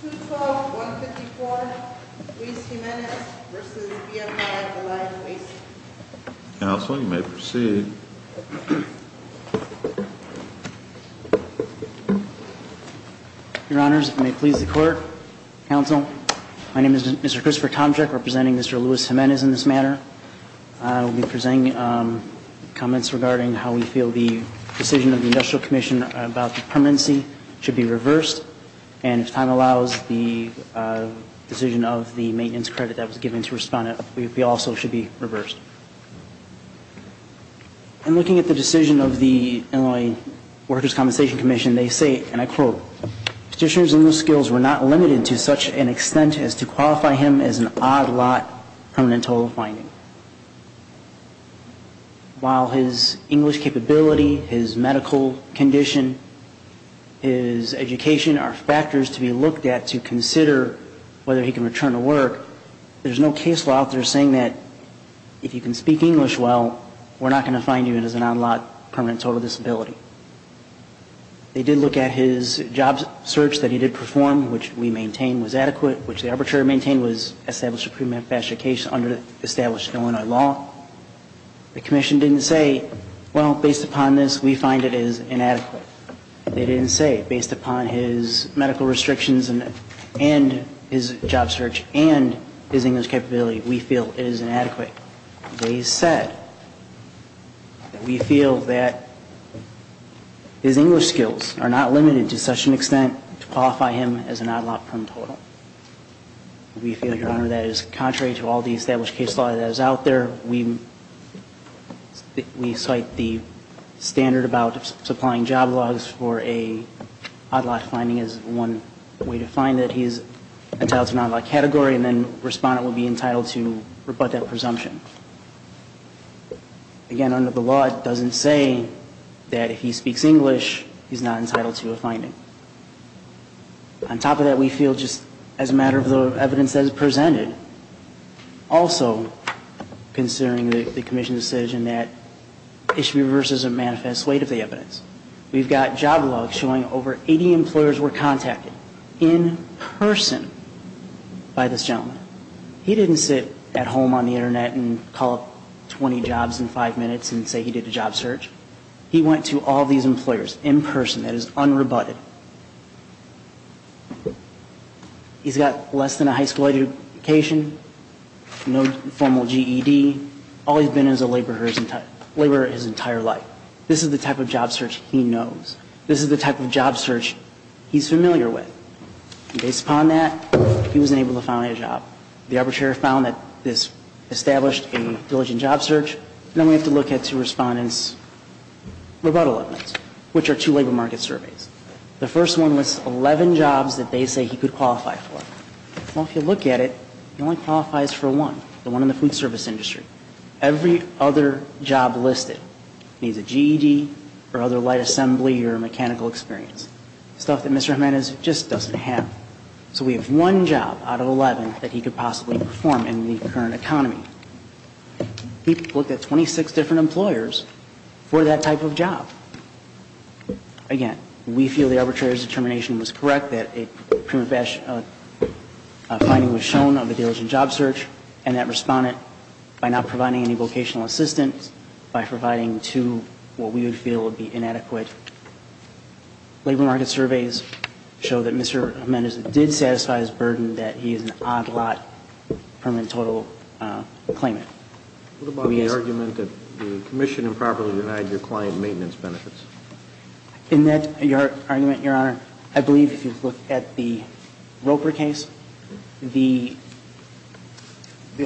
212-154 Lewis-Gimenez v. BMI Reliant Waste Counsel, you may proceed. Your Honors, it may please the Court. Counsel, my name is Mr. Christopher Tomczyk representing Mr. Lewis-Gimenez in this manner. I will be presenting comments regarding how we feel the decision of the Industrial Commission about the permanency should be reversed and if time allows, the decision of the maintenance credit that was given to respondent also should be reversed. In looking at the decision of the Illinois Workers' Compensation Commission, they say, and I quote, Petitioners in those skills were not limited to such an extent as to qualify him as an odd lot permanent total finding. While his English capability, his medical condition, his education are factors to be looked at to consider whether he can return to work, there's no case law out there saying that if you can speak English well, we're not going to find you as an odd lot permanent total disability. They did look at his job search that he did perform, which we maintain was adequate, which the arbitrator maintained was established under the established Illinois law. The Commission didn't say, well, based upon this, we find it is inadequate. They didn't say, based upon his medical restrictions and his job search and his English capability, we feel it is inadequate. They said, we feel that his English skills are not limited to such an extent to qualify him as an odd lot permanent total. We feel, Your Honor, that is contrary to all the established case law that is out there. We cite the standard about supplying job logs for an odd lot finding as one way to find that he's entitled to an odd lot category, and then the respondent will be entitled to rebut that presumption. Again, under the law, it doesn't say that if he speaks English, he's not entitled to a finding. On top of that, we feel just as a matter of the evidence that is presented, also considering the Commission's decision that it should be reversed as a manifest weight of the evidence. We've got job logs showing over 80 employers were contacted in person by this gentleman. He didn't sit at home on the Internet and call up 20 jobs in five minutes and say he did a job search. He went to all these employers in person, that is unrebutted. He's got less than a high school education, no formal GED. All he's been is a laborer his entire life. This is the type of job search he knows. This is the type of job search he's familiar with. The arbitrary found that this established a diligent job search, and then we have to look at two respondents' rebuttal evidence, which are two labor market surveys. The first one lists 11 jobs that they say he could qualify for. Well, if you look at it, he only qualifies for one, the one in the food service industry. Every other job listed needs a GED or other light assembly or mechanical experience, stuff that Mr. Jimenez just doesn't have. So we have one job out of 11 that he could possibly perform in the current economy. He looked at 26 different employers for that type of job. Again, we feel the arbitrator's determination was correct, that a prima facie finding was shown of a diligent job search, and that respondent, by not providing any vocational assistance, by providing two what we would feel would be inadequate labor market surveys, show that Mr. Jimenez did satisfy his burden that he is an odd lot permanent total claimant. What about the argument that the commission improperly denied your client maintenance benefits? In that argument, Your Honor, I believe if you look at the Roper case, the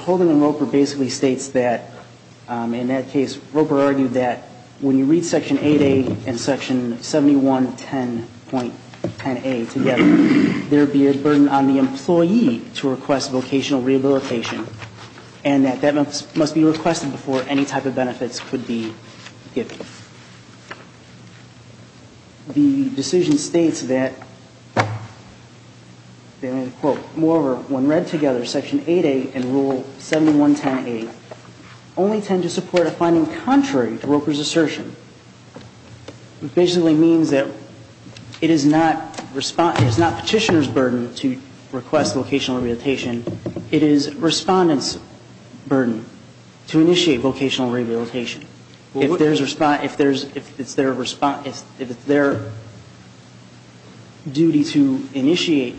holding on Roper basically states that, in that case, Roper argued that when you read Section 8A and Section 7110.10A together, there would be a burden on the employee to request vocational rehabilitation, and that that must be requested before any type of benefits could be given. The decision states that, quote, moreover, when read together, Section 8A and Rule 7110.10A only tend to support a finding contrary to Roper's assertion. It basically means that it is not petitioner's burden to request vocational rehabilitation. It is respondent's burden to initiate vocational rehabilitation. If it's their duty to initiate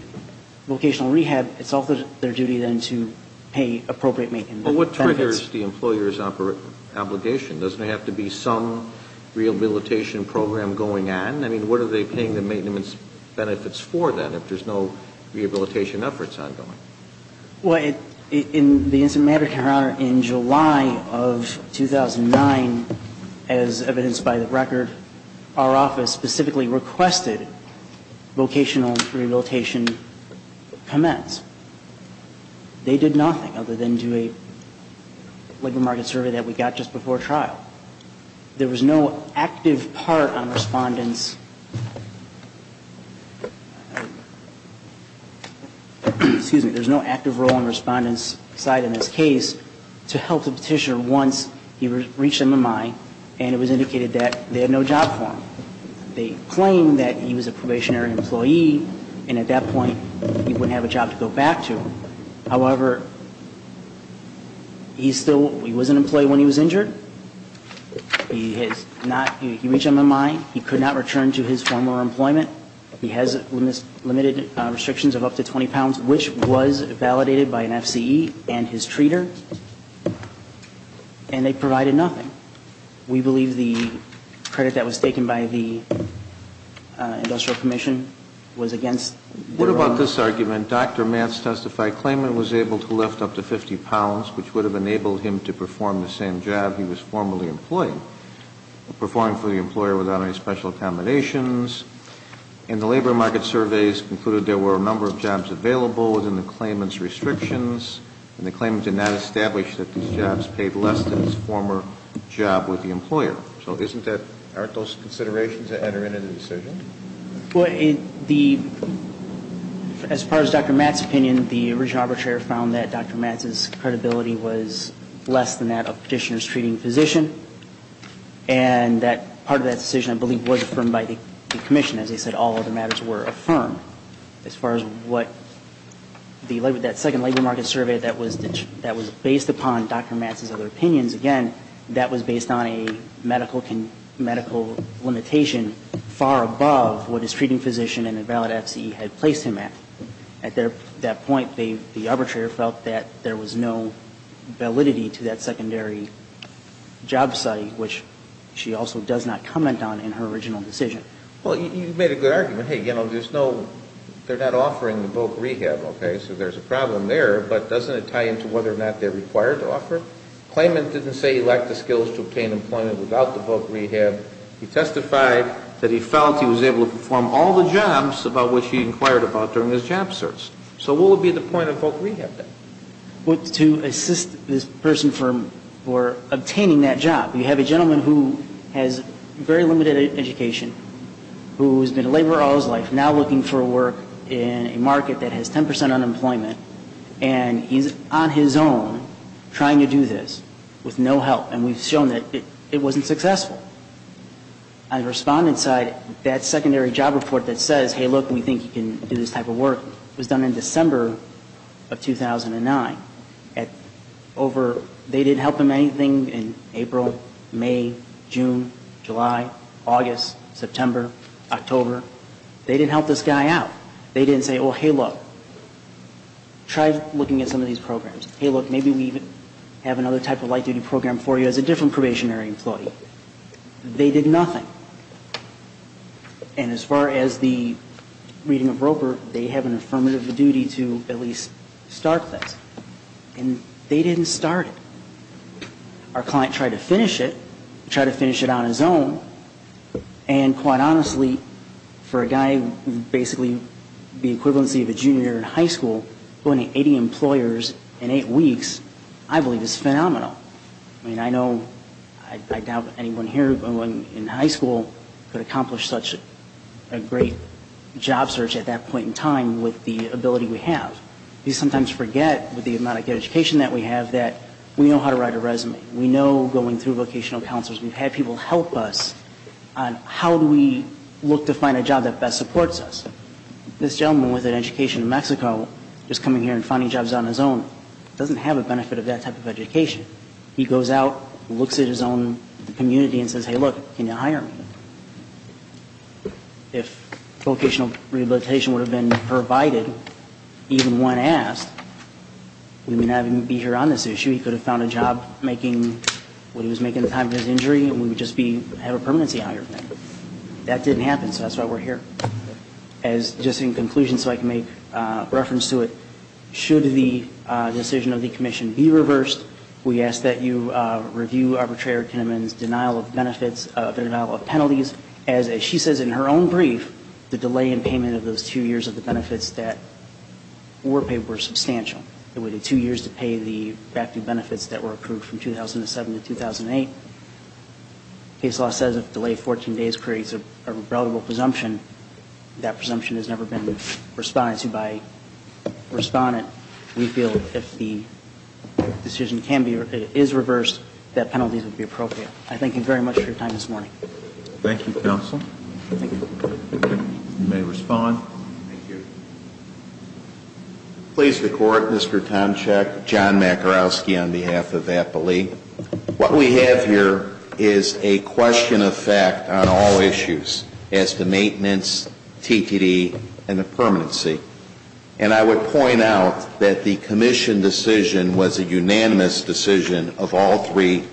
vocational rehab, it's also their duty then to pay appropriate maintenance benefits. But what triggers the employer's obligation? Doesn't it have to be some rehabilitation program going on? I mean, what are they paying the maintenance benefits for, then, if there's no rehabilitation efforts ongoing? Well, in the instant matter, Your Honor, in July of 2009, as evidenced by the record, our office specifically requested vocational rehabilitation commence. They did nothing other than do a labor market survey that we got just before trial. There was no active part on respondent's, excuse me, there's no active role on respondent's side in this case to help the petitioner once he reached MMI, and it was indicated that they had no job for him. They claimed that he was a probationary employee, and at that point, he wouldn't have a job to go back to. However, he was an employee when he was injured. He reached MMI. He could not return to his former employment. He has limited restrictions of up to 20 pounds, which was validated by an FCE and his treater, and they provided nothing. We believe the credit that was taken by the industrial commission was against their own. What about this argument, Dr. Matz testified claimant was able to lift up to 50 pounds, which would have enabled him to perform the same job he was formerly employed, performing for the employer without any special accommodations. And the labor market surveys concluded there were a number of jobs available within the claimant's restrictions, and the claimant did not establish that these jobs paid less than his former job with the employer. So aren't those considerations that enter into the decision? Well, as far as Dr. Matz's opinion, the original arbitrator found that Dr. Matz's credibility was less than that of petitioners treating physician, and that part of that decision I believe was affirmed by the commission. As I said, all other matters were affirmed. As far as what that second labor market survey that was based upon Dr. Matz's other opinions, again, that was based on a medical limitation far above what his treating physician and a valid FCE had placed him at. At that point, the arbitrator felt that there was no validity to that secondary job site, which she also does not comment on in her original decision. Well, you made a good argument. Hey, you know, there's no they're not offering the bulk rehab, okay, so there's a problem there, but doesn't it tie into whether or not they're required to offer? Claimant didn't say he lacked the skills to obtain employment without the bulk rehab. He testified that he felt he was able to perform all the jobs about which he inquired about during his job search. So what would be the point of bulk rehab then? To assist this person for obtaining that job. You have a gentleman who has very limited education, who has been a laborer all his life, now looking for work in a market that has 10 percent unemployment, and he's on his own trying to do this with no help, and we've shown that it wasn't successful. On the respondent's side, that secondary job report that says, hey, look, we think you can do this type of work, was done in December of 2009. They didn't help him in April, May, June, July, August, September, October. They didn't help this guy out. They didn't say, oh, hey, look, try looking at some of these programs. Hey, look, maybe we have another type of light duty program for you as a different probationary employee. They did nothing. And as far as the reading of Roper, they have an affirmative duty to at least start this. And they didn't start it. Our client tried to finish it, tried to finish it on his own, And quite honestly, for a guy basically the equivalency of a junior in high school, going to 80 employers in eight weeks, I believe is phenomenal. I mean, I know, I doubt anyone here in high school could accomplish such a great job search at that point in time with the ability we have. We sometimes forget, with the amount of good education that we have, that we know how to write a resume. We know going through vocational counselors. We've had people help us on how do we look to find a job that best supports us. This gentleman with an education in Mexico, just coming here and finding jobs on his own, doesn't have a benefit of that type of education. He goes out, looks at his own community, and says, hey, look, can you hire me? If vocational rehabilitation would have been provided, even when asked, we would not even be here on this issue. He could have found a job when he was making time for his injury, and we would just have a permanency hire thing. That didn't happen, so that's why we're here. Just in conclusion, so I can make reference to it, should the decision of the commission be reversed, we ask that you review arbitrator Kinneman's denial of benefits, denial of penalties, as she says in her own brief, the delay in payment of those two years of the benefits that were paid were substantial. It would be two years to pay the active benefits that were approved from 2007 to 2008. Case law says if delayed 14 days creates a reliable presumption, that presumption has never been responded to by a respondent. We feel if the decision is reversed, that penalties would be appropriate. I thank you very much for your time this morning. Thank you, counsel. You may respond. Thank you. Please, the Court. Mr. Tomczyk, John Makarowski on behalf of APALE. What we have here is a question of fact on all issues as to maintenance, TTD, and the permanency. And I would point out that the commission decision was a unanimous decision of all three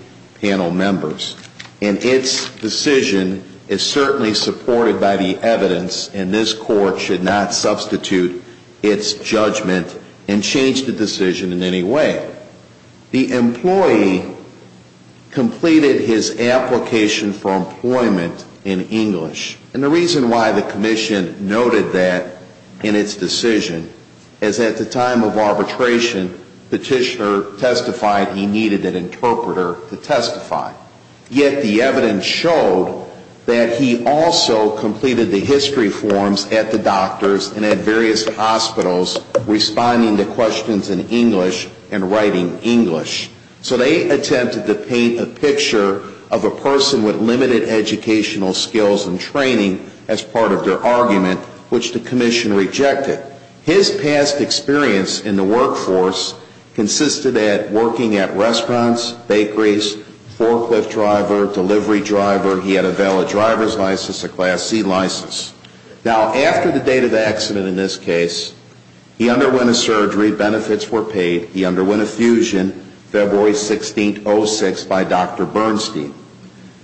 panel members. And its decision is certainly supported by the evidence, and this Court should not substitute its judgment and change the decision in any way. The employee completed his application for employment in English. And the reason why the commission noted that in its decision is at the time of arbitration, petitioner testified he needed an interpreter to testify. Yet the evidence showed that he also completed the history forms at the doctors and at various hospitals responding to questions in English and writing English. So they attempted to paint a picture of a person with limited educational skills and training as part of their argument, which the commission rejected. His past experience in the workforce consisted at working at restaurants, bakeries, forklift driver, delivery driver. He had a valid driver's license, a Class C license. Now, after the date of accident in this case, he underwent a surgery. Benefits were paid. He underwent a fusion February 16, 2006, by Dr. Bernstein.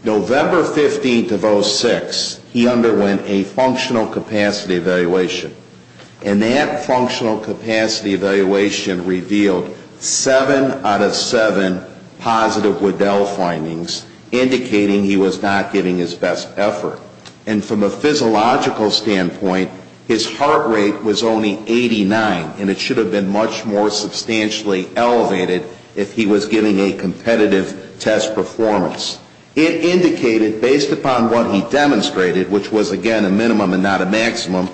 November 15 of 06, he underwent a functional capacity evaluation. And that functional capacity evaluation revealed seven out of seven positive Waddell findings, indicating he was not giving his best effort. And from a physiological standpoint, his heart rate was only 89, and it should have been much more substantially elevated if he was giving a competitive test performance. It indicated, based upon what he demonstrated, which was, again, a minimum and not a maximum,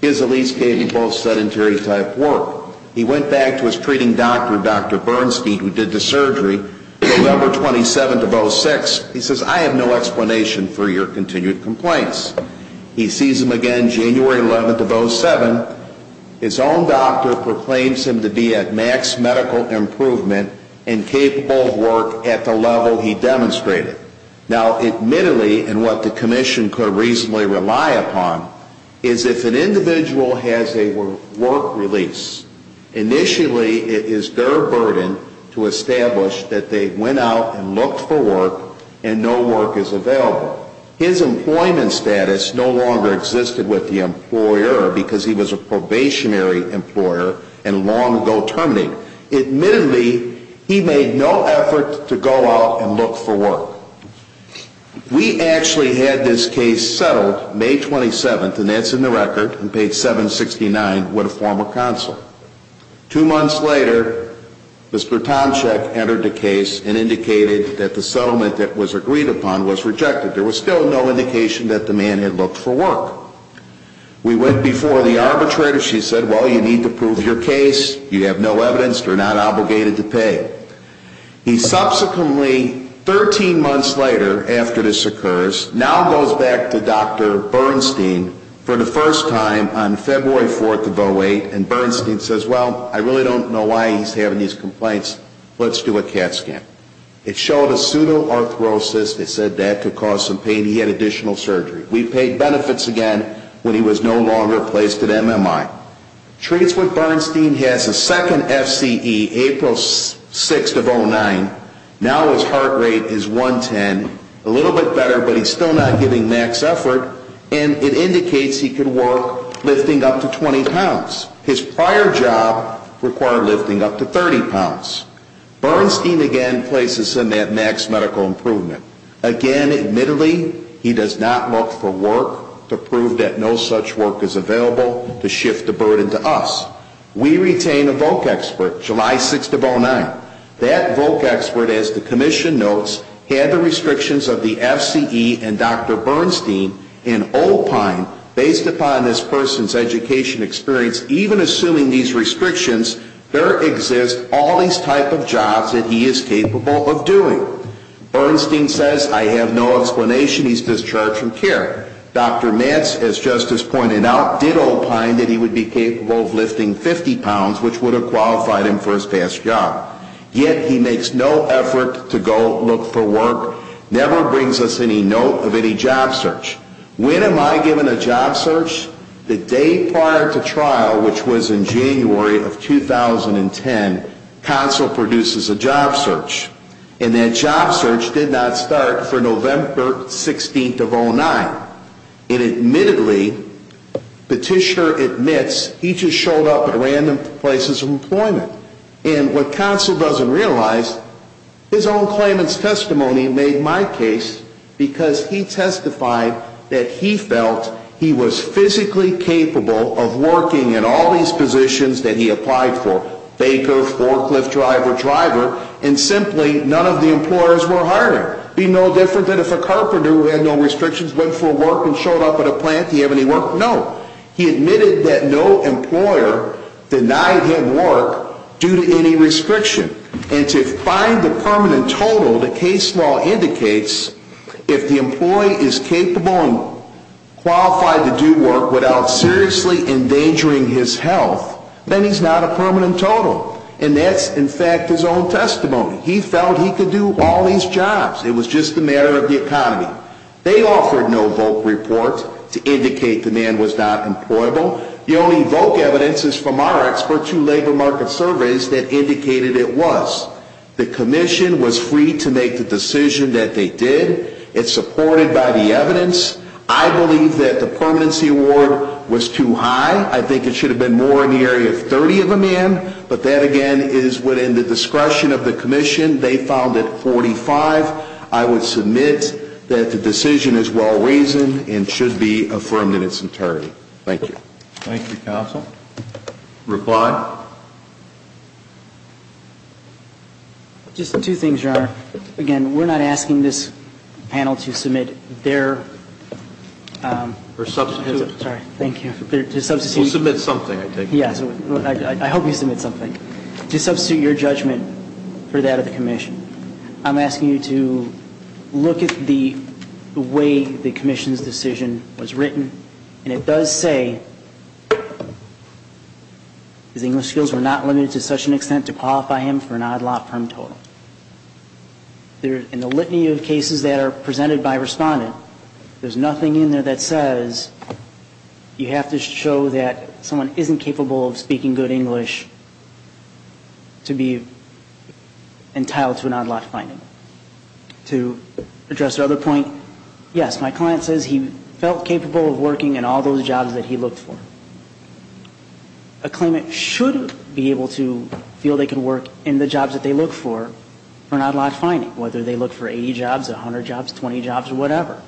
his at least gave you both sedentary type work. He went back to his treating doctor, Dr. Bernstein, who did the surgery. November 27 of 06, he says, I have no explanation for your continued complaints. He sees him again January 11 of 07. His own doctor proclaims him to be at max medical improvement and capable of work at the level he demonstrated. Now, admittedly, and what the commission could reasonably rely upon, is if an individual has a work release, initially it is their burden to establish that they went out and looked for work and no work is available. However, his employment status no longer existed with the employer because he was a probationary employer and long ago terminated. Admittedly, he made no effort to go out and look for work. We actually had this case settled May 27, and that's in the record, on page 769 with a former counsel. Two months later, Mr. Tomczyk entered the case and indicated that the settlement that was agreed upon was rejected. There was still no indication that the man had looked for work. We went before the arbitrator. She said, well, you need to prove your case. You have no evidence. You're not obligated to pay. He subsequently, 13 months later after this occurs, now goes back to Dr. Bernstein for the first time on February 4 of 08, and Bernstein says, well, I really don't know why he's having these complaints. Let's do a CAT scan. It showed a pseudoarthrosis. They said that could cause some pain. He had additional surgery. We paid benefits again when he was no longer placed at MMI. Treats with Bernstein, he has a second FCE, April 6 of 09. Now his heart rate is 110, a little bit better, but he's still not giving max effort, and it indicates he could work lifting up to 20 pounds. His prior job required lifting up to 30 pounds. Bernstein again places him at max medical improvement. Again, admittedly, he does not look for work to prove that no such work is available to shift the burden to us. We retain a voc expert, July 6 of 09. That voc expert, as the commission notes, had the restrictions of the FCE and Dr. Bernstein and opined based upon this person's education experience, even assuming these restrictions, there exist all these type of jobs that he is capable of doing. Bernstein says, I have no explanation. He's discharged from care. Dr. Matz, as Justice pointed out, did opine that he would be capable of lifting 50 pounds, which would have qualified him for his past job. Yet he makes no effort to go look for work, never brings us any note of any job search. When am I given a job search? The day prior to trial, which was in January of 2010, counsel produces a job search. And that job search did not start for November 16 of 09. And admittedly, Petitioner admits he just showed up at random places of employment. And what counsel doesn't realize, his own claimant's testimony made my case because he testified that he felt he was physically capable of working in all these positions that he applied for, baker, forklift driver, driver, and simply none of the employers were hiring. It would be no different than if a carpenter who had no restrictions went for work and showed up at a plant. Did he have any work? No. He admitted that no employer denied him work due to any restriction. And to find the permanent total, the case law indicates if the employee is capable and qualified to do work without seriously endangering his health, then he's not a permanent total. And that's, in fact, his own testimony. He felt he could do all these jobs. It was just a matter of the economy. They offered no VOC report to indicate the man was not employable. The only VOC evidence is from our expert to labor market surveys that indicated it was. The commission was free to make the decision that they did. It's supported by the evidence. I believe that the permanency award was too high. I think it should have been more in the area of 30 of a man. But that, again, is within the discretion of the commission. They found it 45. I would submit that the decision is well-reasoned and should be affirmed in its entirety. Thank you. Thank you, counsel. Reply? Just two things, Your Honor. Again, we're not asking this panel to submit their... We'll submit something, I think. Yes, I hope you submit something to substitute your judgment for that of the commission. I'm asking you to look at the way the commission's decision was written. And it does say his English skills were not limited to such an extent to qualify him for an odd-lot firm total. In the litany of cases that are presented by a respondent, there's nothing in there that says you have to show that someone isn't capable of speaking good English to be entitled to an odd-lot finding. To address the other point, yes, my client says he felt capable of working in all those jobs that he looked for. A claimant should be able to feel they can work in the jobs that they look for for an odd-lot finding, whether they look for 80 jobs, 100 jobs, 20 jobs, or whatever.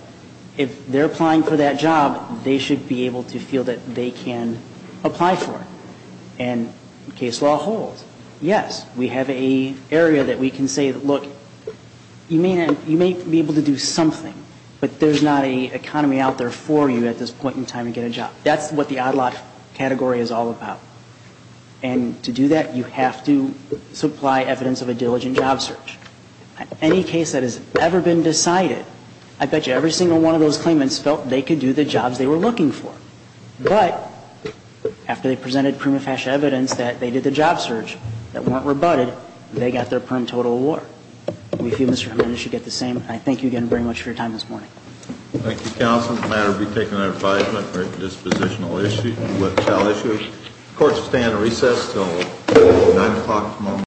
If they're applying for that job, they should be able to feel that they can apply for it. And case law holds. Yes, we have an area that we can say, look, you may be able to do something, but there's not an economy out there for you at this point in time to get a job. That's what the odd-lot category is all about. And to do that, you have to supply evidence of a diligent job search. Any case that has ever been decided, I bet you every single one of those claimants felt they could do the jobs they were looking for. But after they presented prima facie evidence that they did the job search that weren't rebutted, they got their firm total award. We feel Mr. Jimenez should get the same, and I thank you again very much for your time this morning. Thank you, counsel. It's a matter to be taken under advisement for a dispositional issue. The court shall stand at recess until 9 o'clock tomorrow morning.